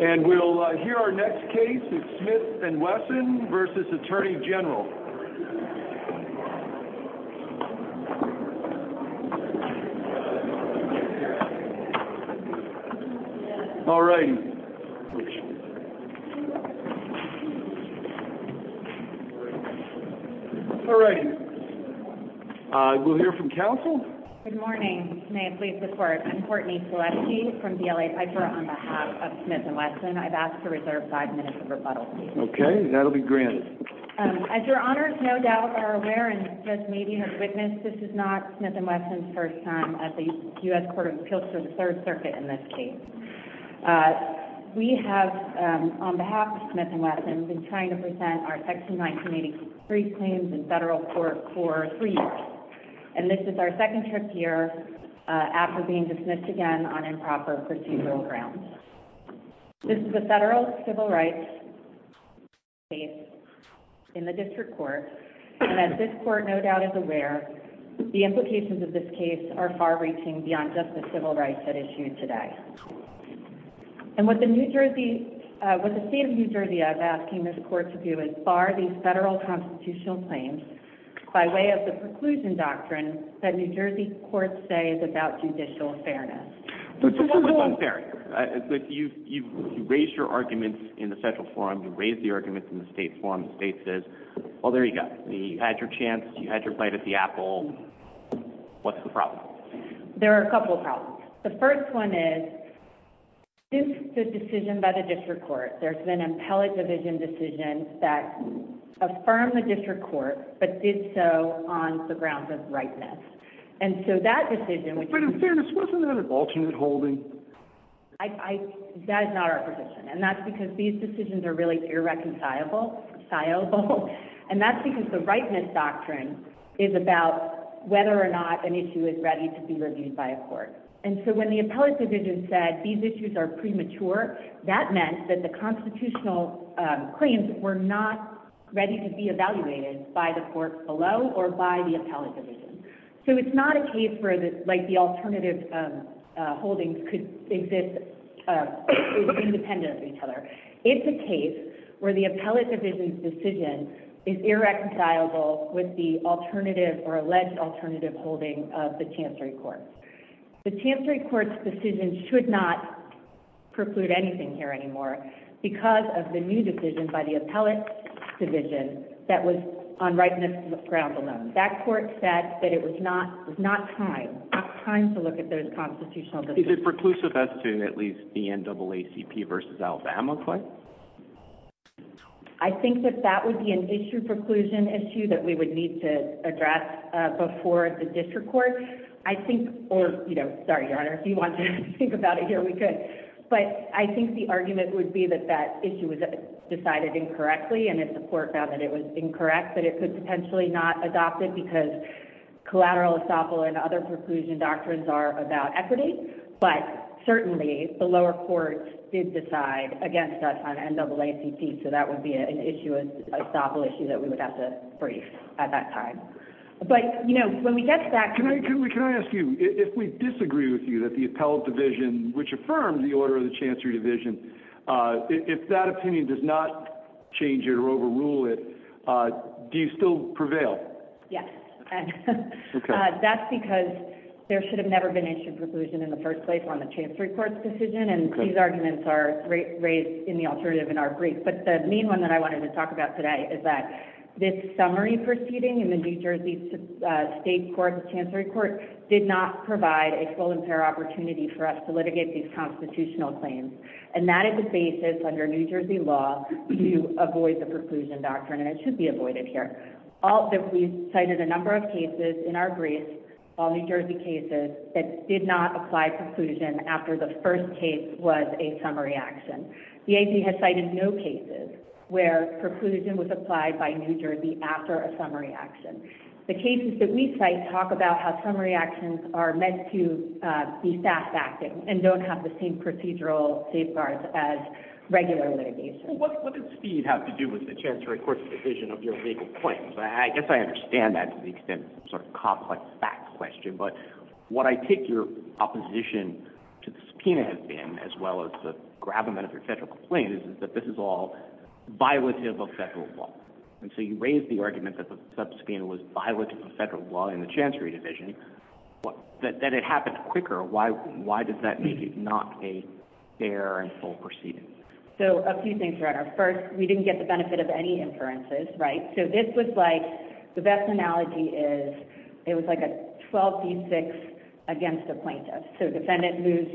And we'll hear our next case of Smith and Wesson v. Attorney General All righty All right We'll hear from counsel. Good morning, may it please the court. I'm Courtney Seleski from DLA Piper on behalf of Smith and Wesson I've asked to reserve five minutes of rebuttal. Okay, that'll be granted As your honors no doubt are aware and just maybe have witnessed This is not Smith and Wesson's first time at the U.S. Court of Appeals for the Third Circuit in this case We have On behalf of Smith and Wesson we've been trying to present our section 1983 claims in federal court for three years And this is our second trip year After being dismissed again on improper procedural grounds This is a federal civil rights case in the district court And as this court no doubt is aware The implications of this case are far reaching beyond just the civil rights at issue today And what the New Jersey What the state of New Jersey is asking this court to do is bar these federal constitutional claims By way of the preclusion doctrine that New Jersey courts say is about judicial fairness So what was unfair here? If you've you've raised your arguments in the federal forum you raised the arguments in the state forum the state says Well, there you go. You had your chance. You had your bite at the apple What's the problem? There are a couple of problems. The first one is Is the decision by the district court? There's been an appellate division decision that Affirmed the district court but did so on the grounds of rightness And so that decision but in fairness, wasn't that an alternate holding I I that is not our position and that's because these decisions are really irreconcilable Sizable and that's because the rightness doctrine is about Whether or not an issue is ready to be reviewed by a court And so when the appellate division said these issues are premature that meant that the constitutional Claims were not ready to be evaluated by the court below or by the appellate division So it's not a case where the like the alternative Holdings could exist Is independent of each other? It's a case where the appellate division's decision is irreconcilable With the alternative or alleged alternative holding of the chancery court the chancery court's decision should not Preclude anything here anymore because of the new decision by the appellate Division that was on rightness ground alone. That court said that it was not it's not time Time to look at those constitutional. Is it preclusive as to at least the n-double-a-c-p versus alpha amicli? I think that that would be an issue preclusion issue that we would need to address Before the district court, I think or you know, sorry your honor if you want to think about it here But I think the argument would be that that issue was decided incorrectly and if the court found that it was incorrect but it could potentially not adopt it because collateral estoppel and other preclusion doctrines are about equity But certainly the lower courts did decide against us on n-double-a-c-p So that would be an issue an estoppel issue that we would have to brief at that time But you know when we get to that Can I ask you if we disagree with you that the appellate division which affirmed the order of the chancery division If that opinion does not Change it or overrule it Do you still prevail? Yes That's because There should have never been issue preclusion in the first place on the chancery court's decision and these arguments are Raised in the alternative in our brief But the main one that I wanted to talk about today is that this summary proceeding in the new jersey State court the chancery court did not provide a full and fair opportunity for us to litigate these constitutional claims And that is the basis under new jersey law to avoid the preclusion doctrine and it should be avoided here All that we cited a number of cases in our briefs all new jersey cases That did not apply preclusion after the first case was a summary action The ap has cited no cases where preclusion was applied by new jersey after a summary action the cases that we cite talk about how summary actions are meant to Be fast acting and don't have the same procedural safeguards as regular litigation What does speed have to do with the chancery court's decision of your legal claims? I guess I understand that to the extent of some sort of complex facts question, but what I take your opposition To the subpoena has been as well as the grab amount of your federal complaint is that this is all Violative of federal law and so you raised the argument that the subpoena was violative of federal law in the chancery division What that it happened quicker? Why why does that make it not a fair and full proceeding? So a few things around our first we didn't get the benefit of any inferences, right? so this was like the best analogy is It was like a 12b6 against a plaintiff so defendant moves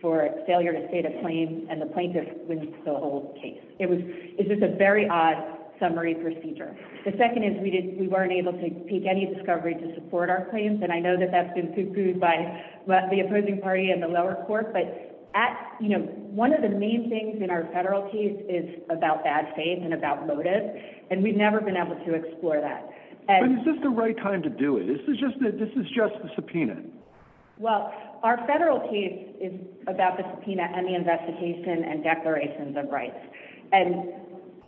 For failure to state a claim and the plaintiff wins the whole case it was is this a very odd summary procedure the second is we didn't we weren't able to take any discovery to support our claims and I know that that's been cuckooed by the opposing party in the lower court But at you know One of the main things in our federal case is about bad faith and about motive And we've never been able to explore that and is this the right time to do it? This is just that this is just the subpoena well, our federal case is about the subpoena and the investigation and declarations of rights and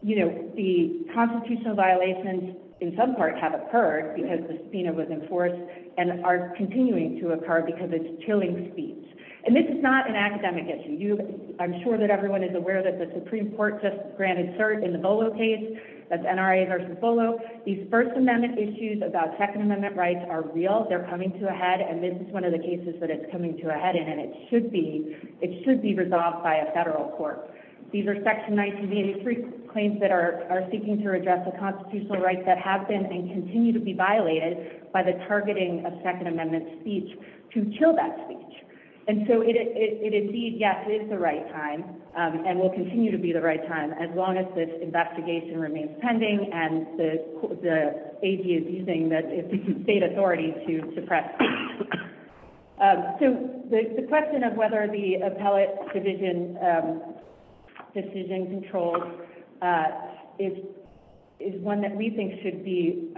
you know the Constitutional violations in some parts have occurred because the subpoena was enforced And are continuing to occur because it's chilling speech and this is not an academic issue I'm sure that everyone is aware that the supreme court just granted cert in the bolo case That's nra versus bolo these first amendment issues about second amendment rights are real They're coming to a head and this is one of the cases that it's coming to a head in and it should be It should be resolved by a federal court These are section 1983 claims that are are seeking to address the constitutional rights that have been and continue to be violated By the targeting of second amendment speech to chill that speech and so it it indeed Yes, it is the right time and will continue to be the right time as long as this investigation remains pending and the Ag is using that state authority to suppress So the question of whether the appellate division Decision controls is Is one that we think should be?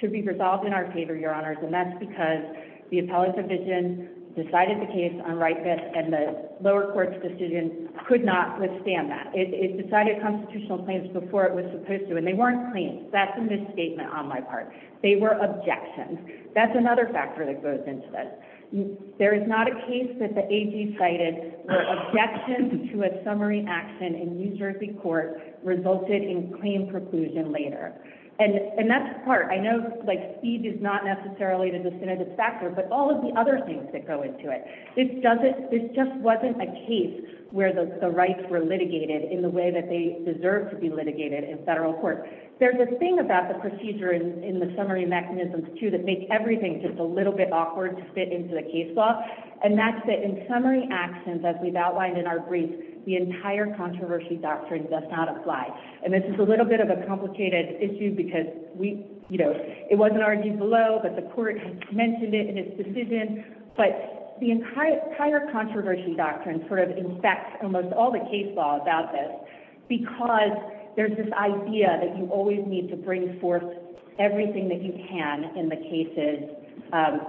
Should be resolved in our favor your honors and that's because the appellate division Decided the case on right fit and the lower court's decision could not withstand that it decided Constitutional claims before it was supposed to and they weren't claims. That's a misstatement on my part. They were objections That's another factor that goes into this There is not a case that the ag cited Objections to a summary action in new jersey court resulted in claim preclusion later And and that's the part I know like speed is not necessarily the definitive factor But all of the other things that go into it This doesn't this just wasn't a case where the rights were litigated in the way that they deserve to be litigated in federal court There's a thing about the procedure in the summary mechanisms, too That makes everything just a little bit awkward to fit into the case law And that's the in summary actions as we've outlined in our brief the entire controversy doctrine does not apply And this is a little bit of a complicated issue because we you know, it wasn't argued below but the court mentioned it in its decision But the entire controversy doctrine sort of infects almost all the case law about this Because there's this idea that you always need to bring forth Everything that you can in the cases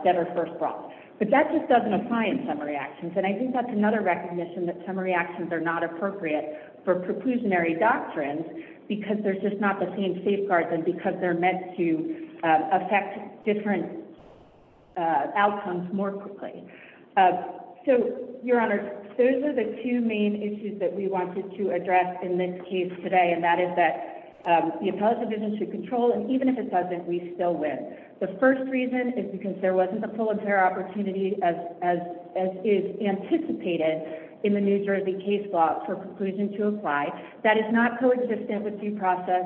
That are first brought but that just doesn't apply in summary actions And I think that's another recognition that summary actions are not appropriate for preclusionary doctrines Because there's just not the same safeguard than because they're meant to affect different Outcomes more quickly So your honor, those are the two main issues that we wanted to address in this case today and that is that The appellate division should control and even if it doesn't we still win The first reason is because there wasn't a full affair opportunity as as as is anticipated In the new jersey case law for preclusion to apply that is not coexistent with due process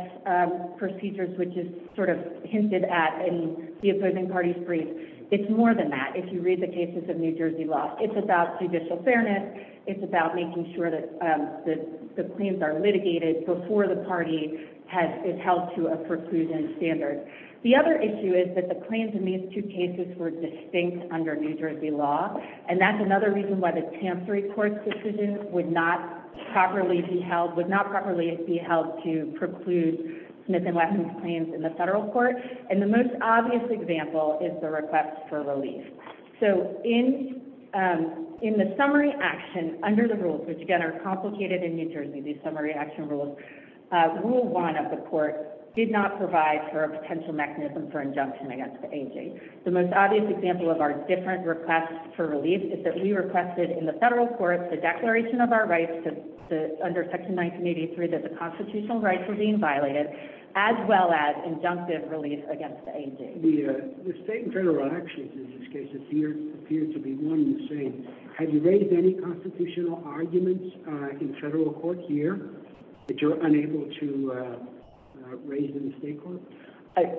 Procedures which is sort of hinted at in the opposing party's brief It's more than that. If you read the cases of new jersey law, it's about judicial fairness It's about making sure that the claims are litigated before the party Has is held to a preclusion standard The other issue is that the claims in these two cases were distinct under new jersey law And that's another reason why the chancery court's decision would not Smith and wesson's claims in the federal court and the most obvious example is the request for relief. So in In the summary action under the rules, which again are complicated in new jersey these summary action rules Rule one of the court did not provide for a potential mechanism for injunction against the aging The most obvious example of our different requests for relief is that we requested in the federal court the declaration of our rights Under section 1983 that the constitutional rights were being violated as well as injunctive relief against the aging the The state and federal actions in this case appear appear to be one the same. Have you raised any constitutional arguments? in federal court here that you're unable to Raise in the state court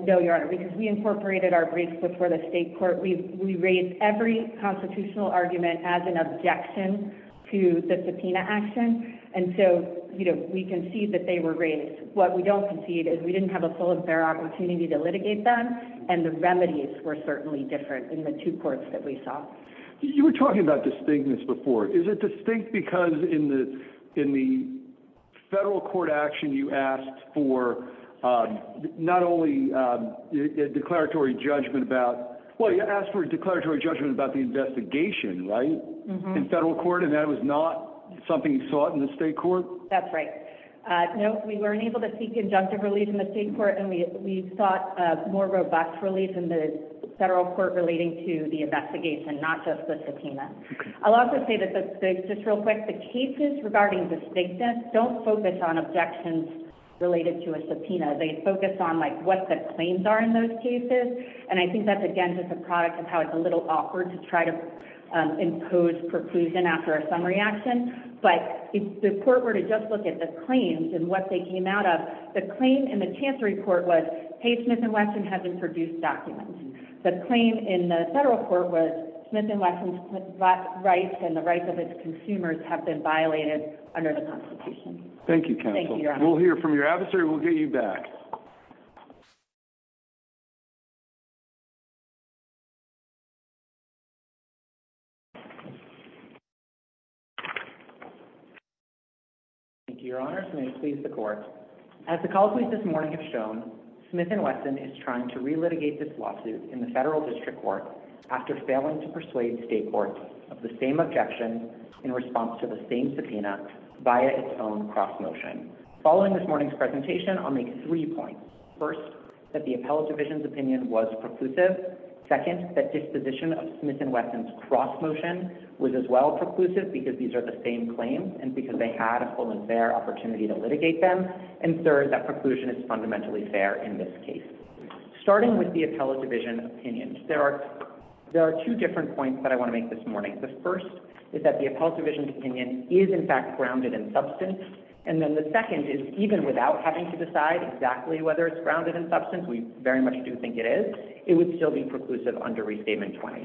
No, your honor because we incorporated our briefs before the state court We raised every constitutional argument as an objection To the subpoena action and so, you know, we concede that they were raised what we don't concede is we didn't have a full Opportunity to litigate them and the remedies were certainly different in the two courts that we saw you were talking about distinctness before is it distinct because in the in the federal court action you asked for Not only A declaratory judgment about well, you asked for a declaratory judgment about the investigation, right? In federal court and that was not something you sought in the state court. That's right uh, no, we weren't able to see conjunctive relief in the state court and we we sought a more robust relief in the Federal court relating to the investigation not just the subpoena I'll also say that the just real quick the cases regarding distinctness don't focus on objections Related to a subpoena they focus on like what the claims are in those cases and I think that's again just a product of how it's a little awkward to try to Impose preclusion after a summary action But if the court were to just look at the claims and what they came out of the claim in the chance report was Page smith and wesson hasn't produced documents the claim in the federal court was smith and wesson's Rights and the rights of its consumers have been violated under the constitution. Thank you counsel We'll hear from your adversary. We'll get you back Thank you, your honors may please the court As the calls we've this morning have shown smith and wesson is trying to relitigate this lawsuit in the federal district court After failing to persuade state courts of the same objection in response to the same subpoena via its own cross motion Following this morning's presentation i'll make three points first that the appellate division's opinion was preclusive Second that disposition of smith and wesson's cross motion Was as well preclusive because these are the same claims and because they had a full and fair opportunity to litigate them And third that preclusion is fundamentally fair in this case starting with the appellate division opinions, there are There are two different points that I want to make this morning The first is that the appellate division's opinion is in fact grounded in substance And then the second is even without having to decide exactly whether it's grounded in substance We very much do think it is it would still be preclusive under restatement 20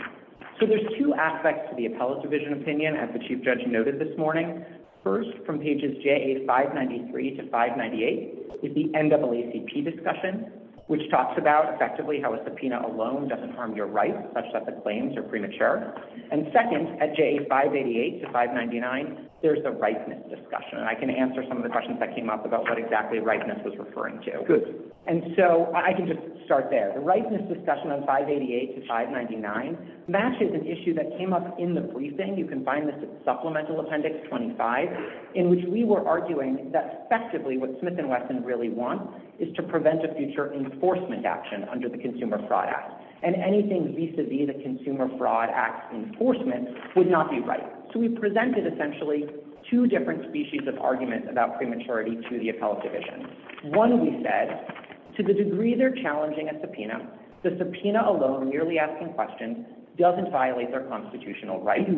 So there's two aspects to the appellate division opinion as the chief judge noted this morning First from pages ja593 to 598 is the NAACP discussion Which talks about effectively how a subpoena alone doesn't harm your rights such that the claims are premature And second at ja588 to 599 There's the rightness discussion and I can answer some of the questions that came up about what exactly rightness was referring to good And so I can just start there the rightness discussion on 588 to 599 Matches an issue that came up in the briefing. You can find this at supplemental appendix 25 In which we were arguing that effectively what smith and wesson really want is to prevent a future Enforcement action under the consumer fraud act and anything vis-a-vis the consumer fraud act enforcement would not be right So we presented essentially two different species of arguments about prematurity to the appellate division One we said To the degree they're challenging a subpoena the subpoena alone merely asking questions doesn't violate their constitutional rights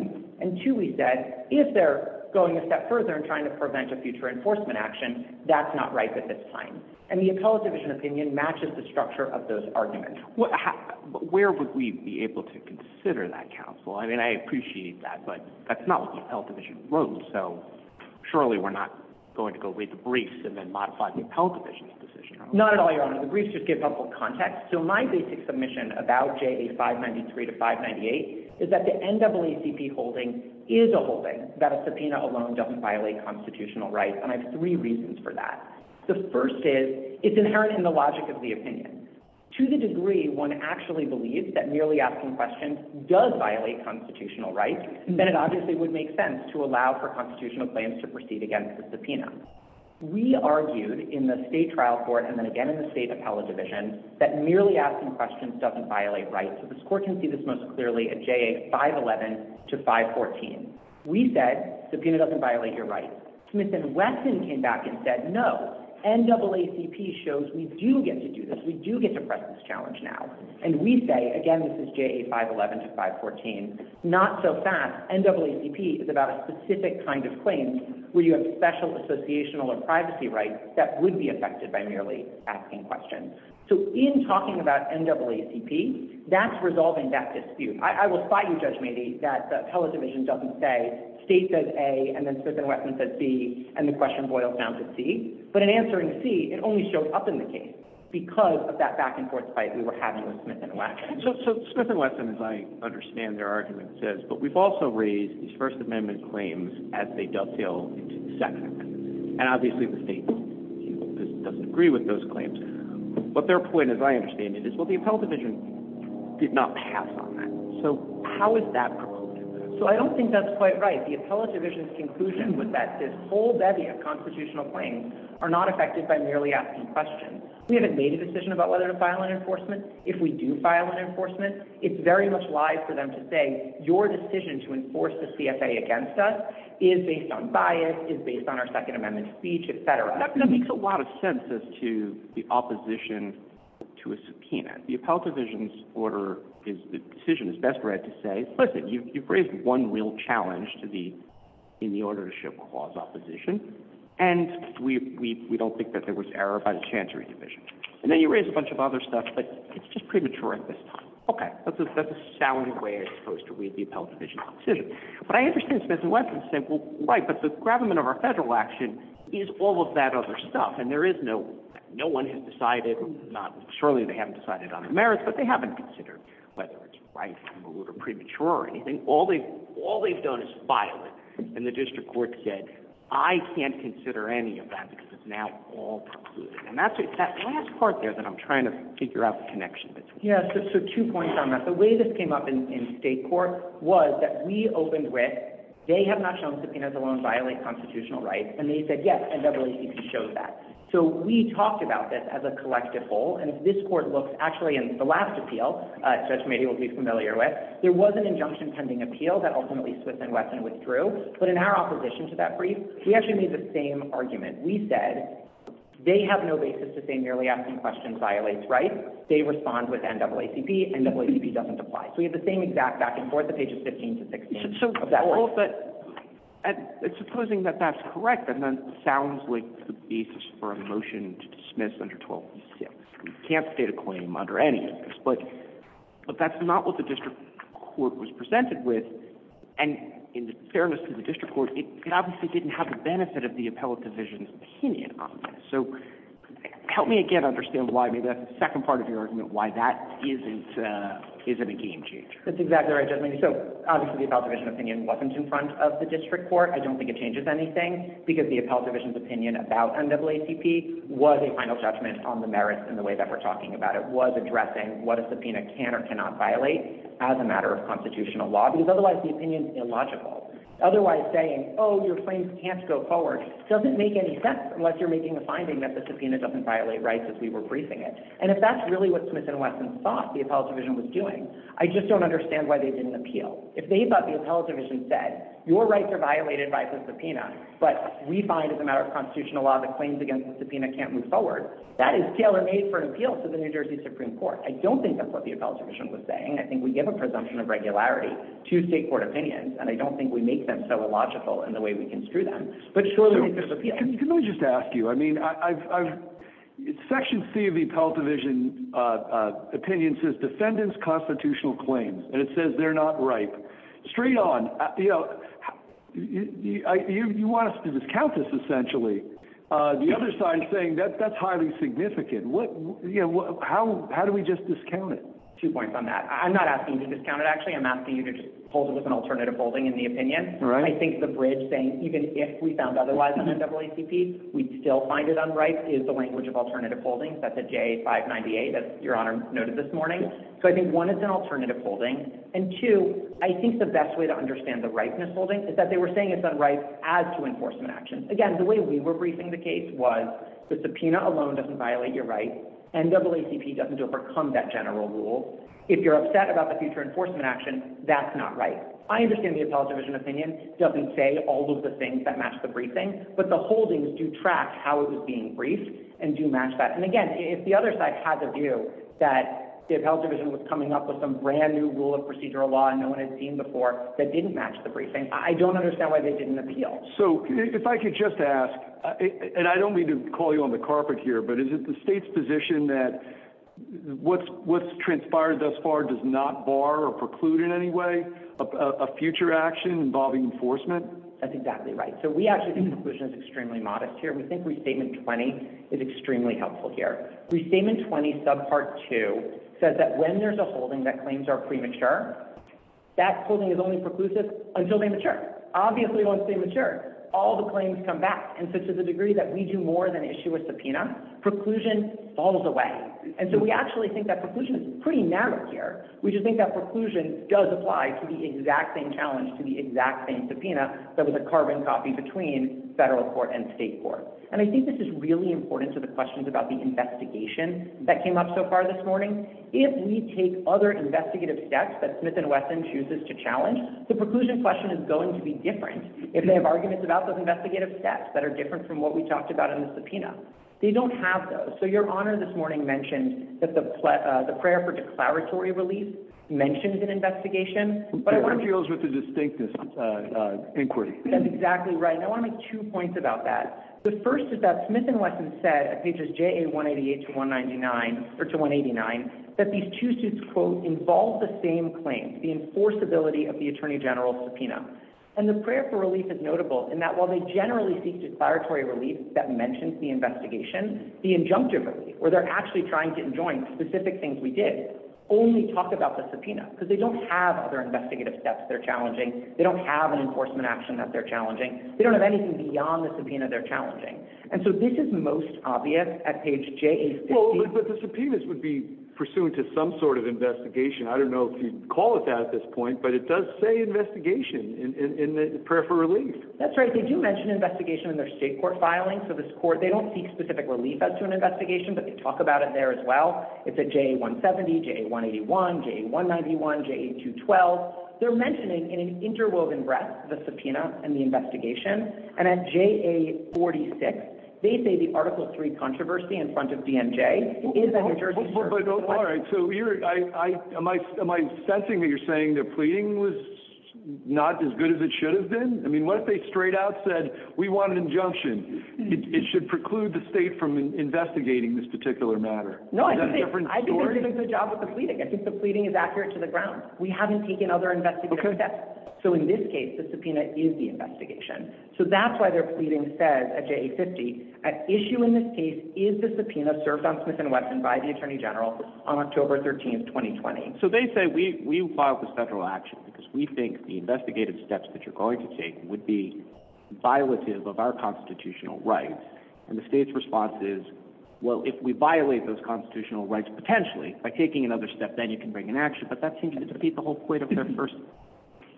And two we said if they're going a step further and trying to prevent a future enforcement action That's not right at this time and the appellate division opinion matches the structure of those arguments Where would we be able to consider that counsel? I mean, I appreciate that but that's not what the appellate division wrote. So Surely, we're not going to go read the briefs and then modify the appellate division's decision Not at all your honor the briefs just give public context So my basic submission about ja593 to 598 is that the NAACP holding Is a holding that a subpoena alone doesn't violate constitutional rights and I have three reasons for that The first is it's inherent in the logic of the opinion To the degree one actually believes that merely asking questions does violate constitutional rights Then it obviously would make sense to allow for constitutional claims to proceed against the subpoena We argued in the state trial court and then again in the state appellate division that merely asking questions doesn't violate rights So this court can see this most clearly at ja511 to 514 We said subpoena doesn't violate your rights. Smith and Wesson came back and said no NAACP shows we do get to do this. We do get to press this challenge now, and we say again This is ja511 to 514 Not so fast NAACP is about a specific kind of claim where you have special Associational or privacy rights that would be affected by merely asking questions So in talking about NAACP That's resolving that dispute. I will spot you judge maybe that the appellate division doesn't say State says a and then smith and wesson says b and the question boils down to c But in answering c it only showed up in the case because of that back and forth fight we were having with smith and wesson So smith and wesson as I understand their argument says but we've also raised these first amendment claims as they dovetail into the second amendment and obviously the state Doesn't agree with those claims But their point as I understand it is what the appellate division Did not pass on that. So how is that? So I don't think that's quite right The appellate division's conclusion was that this whole bevy of constitutional claims are not affected by merely asking questions We haven't made a decision about whether to file an enforcement if we do file an enforcement It's very much live for them to say your decision to enforce the cfa against us Is based on bias is based on our second amendment speech, etc That makes a lot of sense as to the opposition To a subpoena the appellate division's order is the decision is best read to say listen you've raised one real challenge to the In the order to show cause opposition And we we we don't think that there was error by the chancery division and then you raise a bunch of other stuff But it's just premature at this time. Okay, that's a that's a sound way. It's supposed to read the appellate division But I understand smith and wesson's simple right but the gravamen of our federal action Is all of that other stuff and there is no no one has decided not surely they haven't decided on the merits But they haven't considered whether it's right or premature or anything All they all they've done is file it and the district court said I can't consider any of that because it's now all concluded And that's that last part there that i'm trying to figure out the connection Yeah, so two points on that the way this came up in in state court was that we opened with They have not shown subpoenas alone violate constitutional rights and they said yes and double act shows that So we talked about this as a collective whole and if this court looks actually in the last appeal Judge, maybe you'll be familiar with there was an injunction pending appeal that ultimately smith and wesson withdrew But in our opposition to that brief, we actually made the same argument. We said They have no basis to say merely asking questions violates, right? They respond with n double acp and double acp doesn't apply. So we have the same exact back and forth the pages 15 to 16 but And supposing that that's correct and then sounds like the basis for a motion to dismiss under 12 we can't state a claim under any of this, but But that's not what the district court was presented with And in fairness to the district court, it obviously didn't have the benefit of the appellate division's opinion on this so Help me again understand why maybe that's the second part of your argument why that isn't uh, is it a game changer? That's exactly right. So obviously the appellate division opinion wasn't in front of the district court I don't think it changes anything because the appellate division's opinion about n double acp Was a final judgment on the merits in the way that we're talking about it was addressing what a subpoena can or cannot violate As a matter of constitutional law because otherwise the opinion's illogical Otherwise saying oh your claims can't go forward Doesn't make any sense unless you're making a finding that the subpoena doesn't violate rights as we were briefing it And if that's really what smith and wesson thought the appellate division was doing I just don't understand why they didn't appeal if they thought the appellate division said your rights are violated by the subpoena But we find as a matter of constitutional law the claims against the subpoena can't move forward That is tailor-made for an appeal to the new jersey supreme court. I don't think that's what the appellate division was saying I think we give a presumption of regularity to state court opinions And I don't think we make them so illogical in the way we can screw them. But surely Let me just ask you. I mean i've i've section c of the appellate division, uh Opinion says defendants constitutional claims and it says they're not ripe straight on you know You you want us to discount this essentially, uh, the other side saying that that's highly significant what you know How how do we just discount it two points on that i'm not asking you to discount it actually i'm asking you to just Hold it with an alternative holding in the opinion All right I think the bridge saying even if we found otherwise on the double acp we'd still find it unripe is the language of alternative Holdings that's a j598 as your honor noted this morning So I think one is an alternative holding and two I think the best way to understand the ripeness holding is that they were saying it's unripe as to enforcement actions again The way we were briefing the case was the subpoena alone doesn't violate your right and double acp doesn't overcome that general rule If you're upset about the future enforcement action, that's not right I understand the appellate division opinion doesn't say all of the things that match the briefing but the holdings do track how it was being briefed and do match that and again if the other side has a view that The appellate division was coming up with some brand new rule of procedural law and no one had seen before That didn't match the briefing. I don't understand why they didn't appeal So if I could just ask and I don't mean to call you on the carpet here, but is it the state's position that What's what's transpired thus far does not bar or preclude in any way a future action involving enforcement? That's exactly right. So we actually think the conclusion is extremely modest here We think restatement 20 is extremely helpful here restatement 20 sub part 2 Says that when there's a holding that claims are premature That holding is only preclusive until they mature Obviously once they mature all the claims come back and so to the degree that we do more than issue a subpoena Preclusion falls away. And so we actually think that preclusion is pretty narrow here We just think that preclusion does apply to the exact same challenge to the exact same subpoena That was a carbon copy between federal court and state court And I think this is really important to the questions about the investigation That came up so far this morning If we take other investigative steps that smith and wesson chooses to challenge The preclusion question is going to be different if they have arguments about those investigative steps that are different from what we talked about in The subpoena. They don't have those so your honor this morning mentioned that the the prayer for declaratory relief Mentioned in investigation, but I want to deals with the distinctness Inquiry, that's exactly right. I want to make two points about that The first is that smith and wesson said at pages ja 188 to 199 Or to 189 that these two suits quote involve the same claims the enforceability of the attorney general subpoena And the prayer for relief is notable in that while they generally seek declaratory relief that mentions the investigation The injunctive relief where they're actually trying to join specific things We did only talk about the subpoena because they don't have other investigative steps. They're challenging They don't have an enforcement action that they're challenging. They don't have anything beyond the subpoena They're challenging. And so this is most obvious at page j. Well, but the subpoenas would be pursuant to some sort of investigation I don't know if you'd call it that at this point, but it does say investigation in in the prayer for relief That's right. They do mention investigation in their state court filing So this court they don't seek specific relief as to an investigation, but they talk about it there as well It's a j 170 j 181 j 191 j 8 2 12 they're mentioning in an interwoven breath the subpoena and the investigation and at Ja46 they say the article 3 controversy in front of dnj All right, so you're I I am I am I sensing that you're saying the pleading was Not as good as it should have been. I mean what if they straight out said we want an injunction It should preclude the state from investigating this particular matter No, I think I've been doing a good job with the pleading. I think the pleading is accurate to the ground We haven't taken other investigative steps. So in this case the subpoena is the investigation So that's why they're pleading says at j-50 At issue in this case is the subpoena served on smith and wesson by the attorney general on october 13th 2020 so they say we we file the federal action because we think the investigative steps that you're going to take would be Violative of our constitutional rights and the state's response is Well, if we violate those constitutional rights potentially by taking another step, then you can bring an action But that seems to defeat the whole point of their first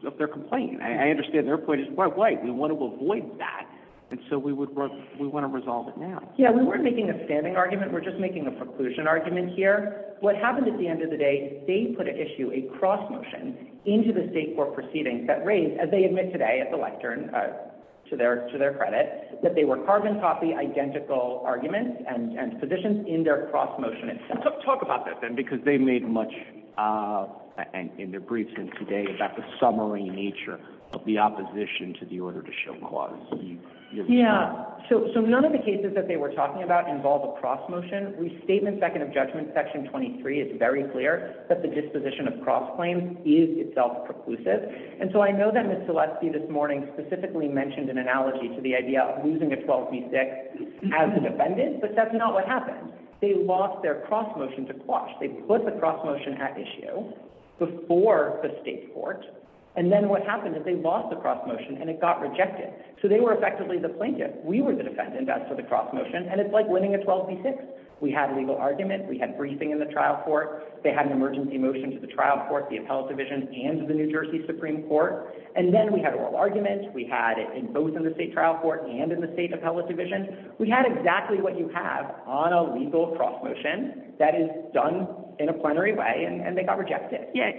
Of their complaint. I understand their point is why why we want to avoid that and so we would work We want to resolve it now. Yeah, we weren't making a standing argument. We're just making a preclusion argument here What happened at the end of the day? They put an issue a cross motion into the state court proceedings that raised as they admit today at the lectern To their to their credit that they were carbon copy identical arguments and and positions in their cross motion itself Talk about that then because they made much uh In their briefs and today about the summary nature of the opposition to the order to show clause Yeah, so so none of the cases that they were talking about involve a cross motion We statement second of judgment section 23. It's very clear that the disposition of cross claims is itself preclusive And so I know that miss celeste this morning specifically mentioned an analogy to the idea of losing a 12 v6 As a defendant, but that's not what happened. They lost their cross motion to quash. They put the cross motion at issue Before the state court and then what happened is they lost the cross motion and it got rejected So they were effectively the plaintiff We were the defendant as to the cross motion and it's like winning a 12 v6 We had a legal argument. We had briefing in the trial court They had an emergency motion to the trial court the appellate division and to the new jersey supreme court And then we had oral argument we had in both in the state trial court and in the state appellate division We had exactly what you have on a lethal cross motion that is done in a plenary way and they got rejected. Yeah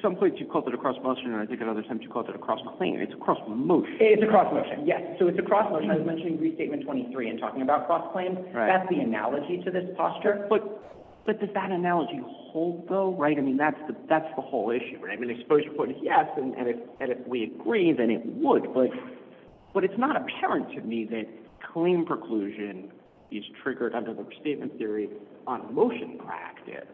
Some points you called it a cross motion. I think at other times you called it a cross claim. It's a cross motion It's a cross motion. Yes, so it's a cross motion. I was mentioning restatement 23 and talking about cross claims That's the analogy to this posture but But does that analogy hold though, right? I mean, that's the that's the whole issue, right? I mean exposure point is yes, and if and if we agree then it would but But it's not apparent to me that claim preclusion Is triggered under the restatement theory on motion practice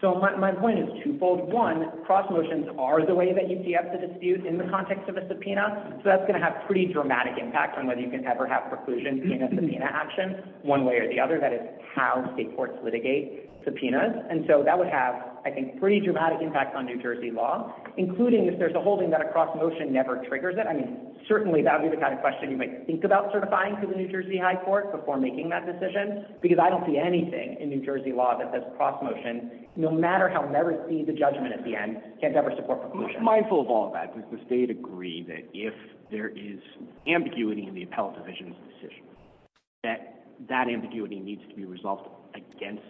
So my point is twofold one cross motions are the way that you see up the dispute in the context of a subpoena So that's going to have pretty dramatic impact on whether you can ever have preclusion subpoena action one way or the other that is How state courts litigate subpoenas and so that would have I think pretty dramatic impact on new jersey law Including if there's a holding that a cross motion never triggers it I mean Certainly that would be the kind of question you might think about certifying to the new jersey high court before making that decision Because I don't see anything in new jersey law that says cross motion No matter how never see the judgment at the end can't ever support Mindful of all that does the state agree that if there is ambiguity in the appellate division's decision That that ambiguity needs to be resolved against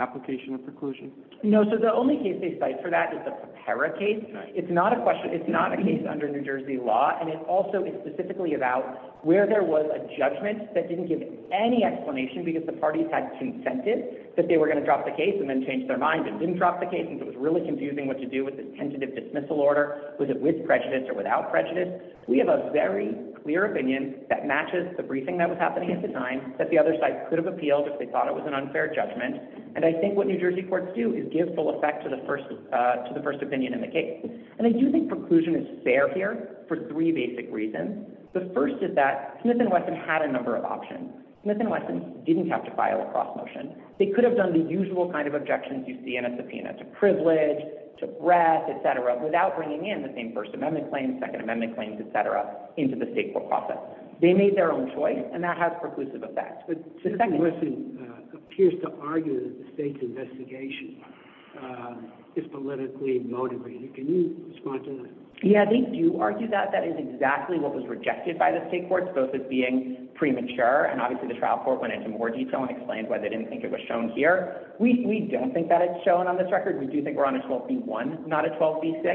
application of preclusion. No, so the only case they cite for that is the pera case It's not a question. It's not a case under new jersey law And it also is specifically about where there was a judgment that didn't give any explanation because the parties had Consented that they were going to drop the case and then change their mind and didn't drop the case It was really confusing what to do with this tentative dismissal order. Was it with prejudice or without prejudice? We have a very clear opinion that matches the briefing that was happening at the time that the other side could have appealed if they Thought it was an unfair judgment And I think what new jersey courts do is give full effect to the first Uh to the first opinion in the case and I do think preclusion is fair here for three basic reasons The first is that smith and wesson had a number of options smith and wesson didn't have to file a cross motion They could have done the usual kind of objections you see in a subpoena to privilege to breath, etc Without bringing in the same first amendment claims second amendment claims, etc into the state court process They made their own choice and that has preclusive effects, but second Appears to argue that the state's investigation Is politically motivated can you respond to that? Yeah, they do argue that that is exactly what was rejected by the state courts both as being premature And obviously the trial court went into more detail and explained why they didn't think it was shown here We we don't think that it's shown on this record We do think we're on a 12 b1 not a 12 b6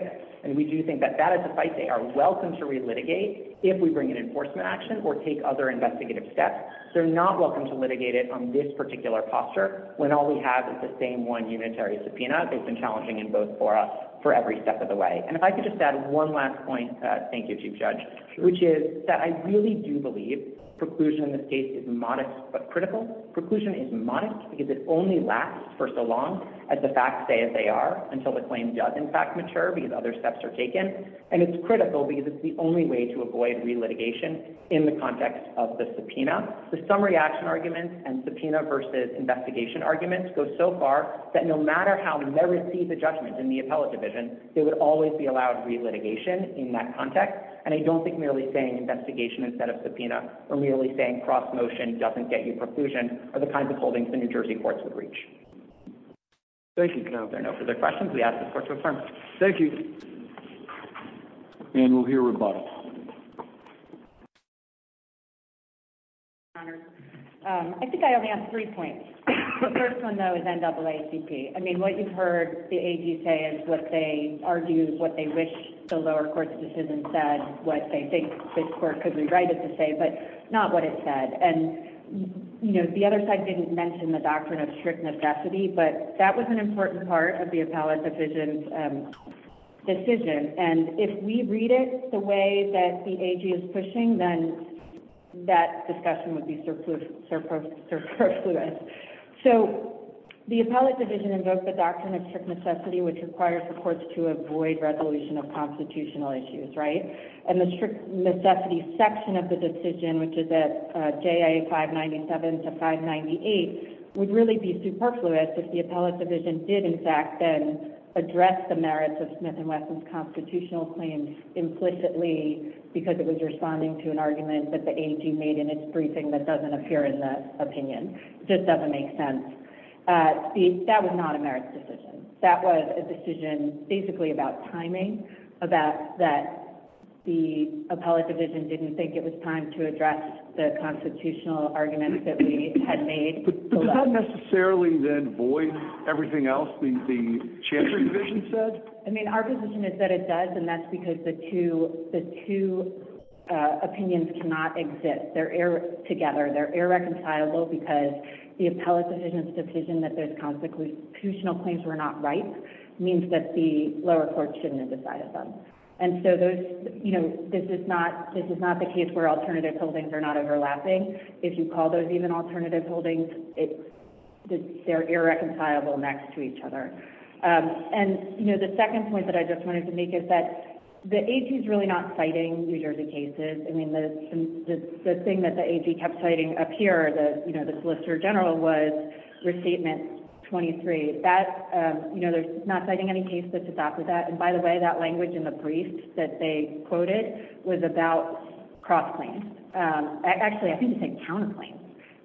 And we do think that that is a fight they are welcome to relitigate if we bring an enforcement action or take other investigative steps They're not welcome to litigate it on this particular posture when all we have is the same one unitary subpoena That's been challenging in both for us for every step of the way and if I could just add one last point Thank you. Chief judge, which is that I really do believe Preclusion in this case is modest but critical preclusion is modest because it only lasts for so long As the facts say as they are until the claim does in fact mature because other steps are taken And it's critical because it's the only way to avoid relitigation In the context of the subpoena the summary action arguments and subpoena versus investigation arguments go so far That no matter how they receive the judgment in the appellate division They would always be allowed re-litigation in that context and I don't think merely saying investigation instead of subpoena Or merely saying cross motion doesn't get you preclusion are the kinds of holdings the new jersey courts would reach Thank you. No further questions. We ask the court to affirm. Thank you And we'll hear rebuttal I Think I only have three points The first one though is NAACP I mean what you've heard the AG say is what they argue what they wish the lower court's decision said what they think this court could rewrite it to say but not what it said and You know, the other side didn't mention the doctrine of strict necessity, but that was an important part of the appellate division Decision and if we read it the way that the AG is pushing then That discussion would be surplus surplus surplus so The appellate division invoked the doctrine of strict necessity which requires the courts to avoid resolution of constitutional issues, right? And the strict necessity section of the decision, which is at jia 597 to 598 Would really be superfluous if the appellate division did in fact then address the merits of smith and wesson's constitutional claims implicitly Because it was responding to an argument that the AG made in its briefing that doesn't appear in the opinion. It just doesn't make sense Uh, that was not a merit decision. That was a decision basically about timing about that The appellate division didn't think it was time to address the constitutional arguments that we had made But does that necessarily then void everything else the the Chamber division said I mean our position is that it does and that's because the two the two Opinions cannot exist. They're air together. They're irreconcilable because the appellate division's decision that those Constitutional claims were not right means that the lower court shouldn't have decided them And so those you know, this is not this is not the case where alternative holdings are not overlapping If you call those even alternative holdings it They're irreconcilable next to each other and you know the second point that I just wanted to make is that The ag is really not citing new jersey cases. I mean the The thing that the ag kept citing up here the you know, the solicitor general was Restatement 23 that um, you know, there's not citing any case that's adopted that and by the way that language in the briefs that they Quoted was about cross-claims Actually, I think you said counterclaims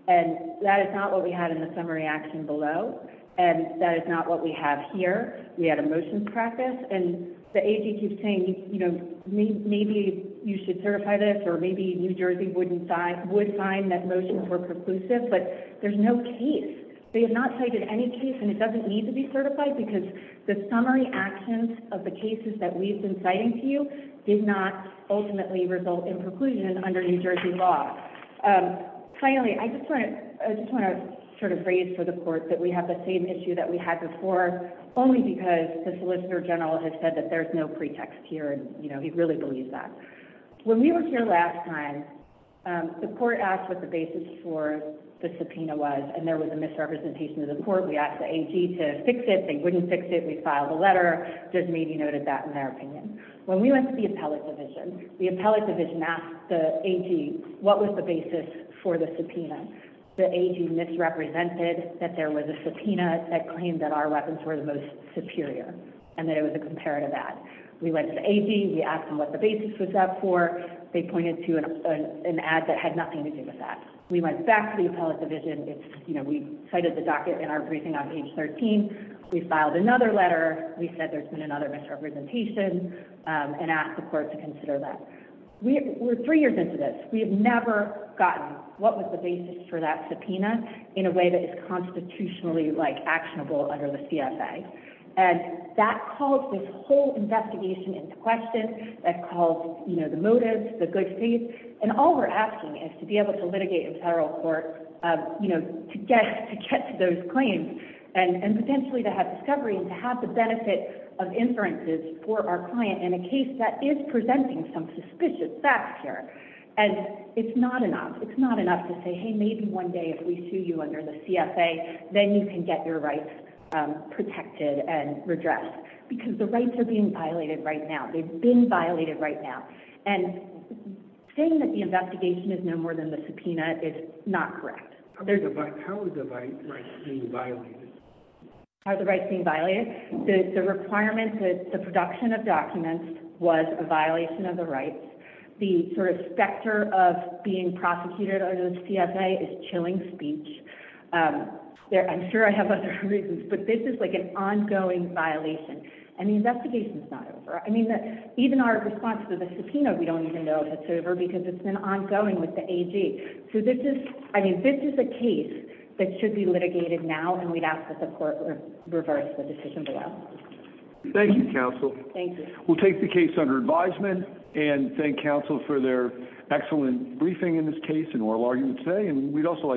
and that is not what we had in the summary action below And that is not what we have here. We had a motions practice and the ag keeps saying, you know Maybe you should certify this or maybe new jersey wouldn't sign would find that motions were preclusive But there's no case They have not cited any case and it doesn't need to be certified because the summary actions of the cases that we've been citing to Did not ultimately result in preclusion under new jersey law Finally, I just want to I just want to sort of raise for the court that we have the same issue that we had before Only because the solicitor general has said that there's no pretext here. And you know, he really believes that when we were here last time the court asked what the basis for The subpoena was and there was a misrepresentation of the court. We asked the ag to fix it Wouldn't fix it. We filed a letter just maybe noted that in their opinion when we went to the appellate division The appellate division asked the ag. What was the basis for the subpoena? The ag misrepresented that there was a subpoena that claimed that our weapons were the most superior and that it was a comparative ad We went to ag we asked them what the basis was up for They pointed to an an ad that had nothing to do with that. We went back to the appellate division It's you know, we cited the docket in our briefing on page 13 We filed another letter. We said there's been another misrepresentation And asked the court to consider that We were three years into this. We have never gotten what was the basis for that subpoena in a way that is constitutionally like actionable under the cfa And that calls this whole investigation into question that calls, you know The motives the good faith and all we're asking is to be able to litigate in federal court You know to get to get to those claims and and potentially to have discovery and to have the benefit Of inferences for our client in a case that is presenting some suspicious facts here And it's not enough. It's not enough to say. Hey, maybe one day if we sue you under the cfa then you can get your rights Protected and redressed because the rights are being violated right now. They've been violated right now and Saying that the investigation is no more than the subpoena. It's not correct. There's a bike. How is the right thing violated? How's the right thing violated the requirement that the production of documents was a violation of the rights? The sort of specter of being prosecuted under the cfa is chilling speech um There i'm sure I have other reasons, but this is like an ongoing violation and the investigation is not over I mean that even our response to the subpoena. We don't even know if it's over because it's been ongoing with the ag So this is I mean, this is a case that should be litigated now and we'd ask that the court reverse the decision below Thank you counsel. Thank you We'll take the case under advisement and thank counsel for their excellent briefing in this case and oral argument today And we'd also like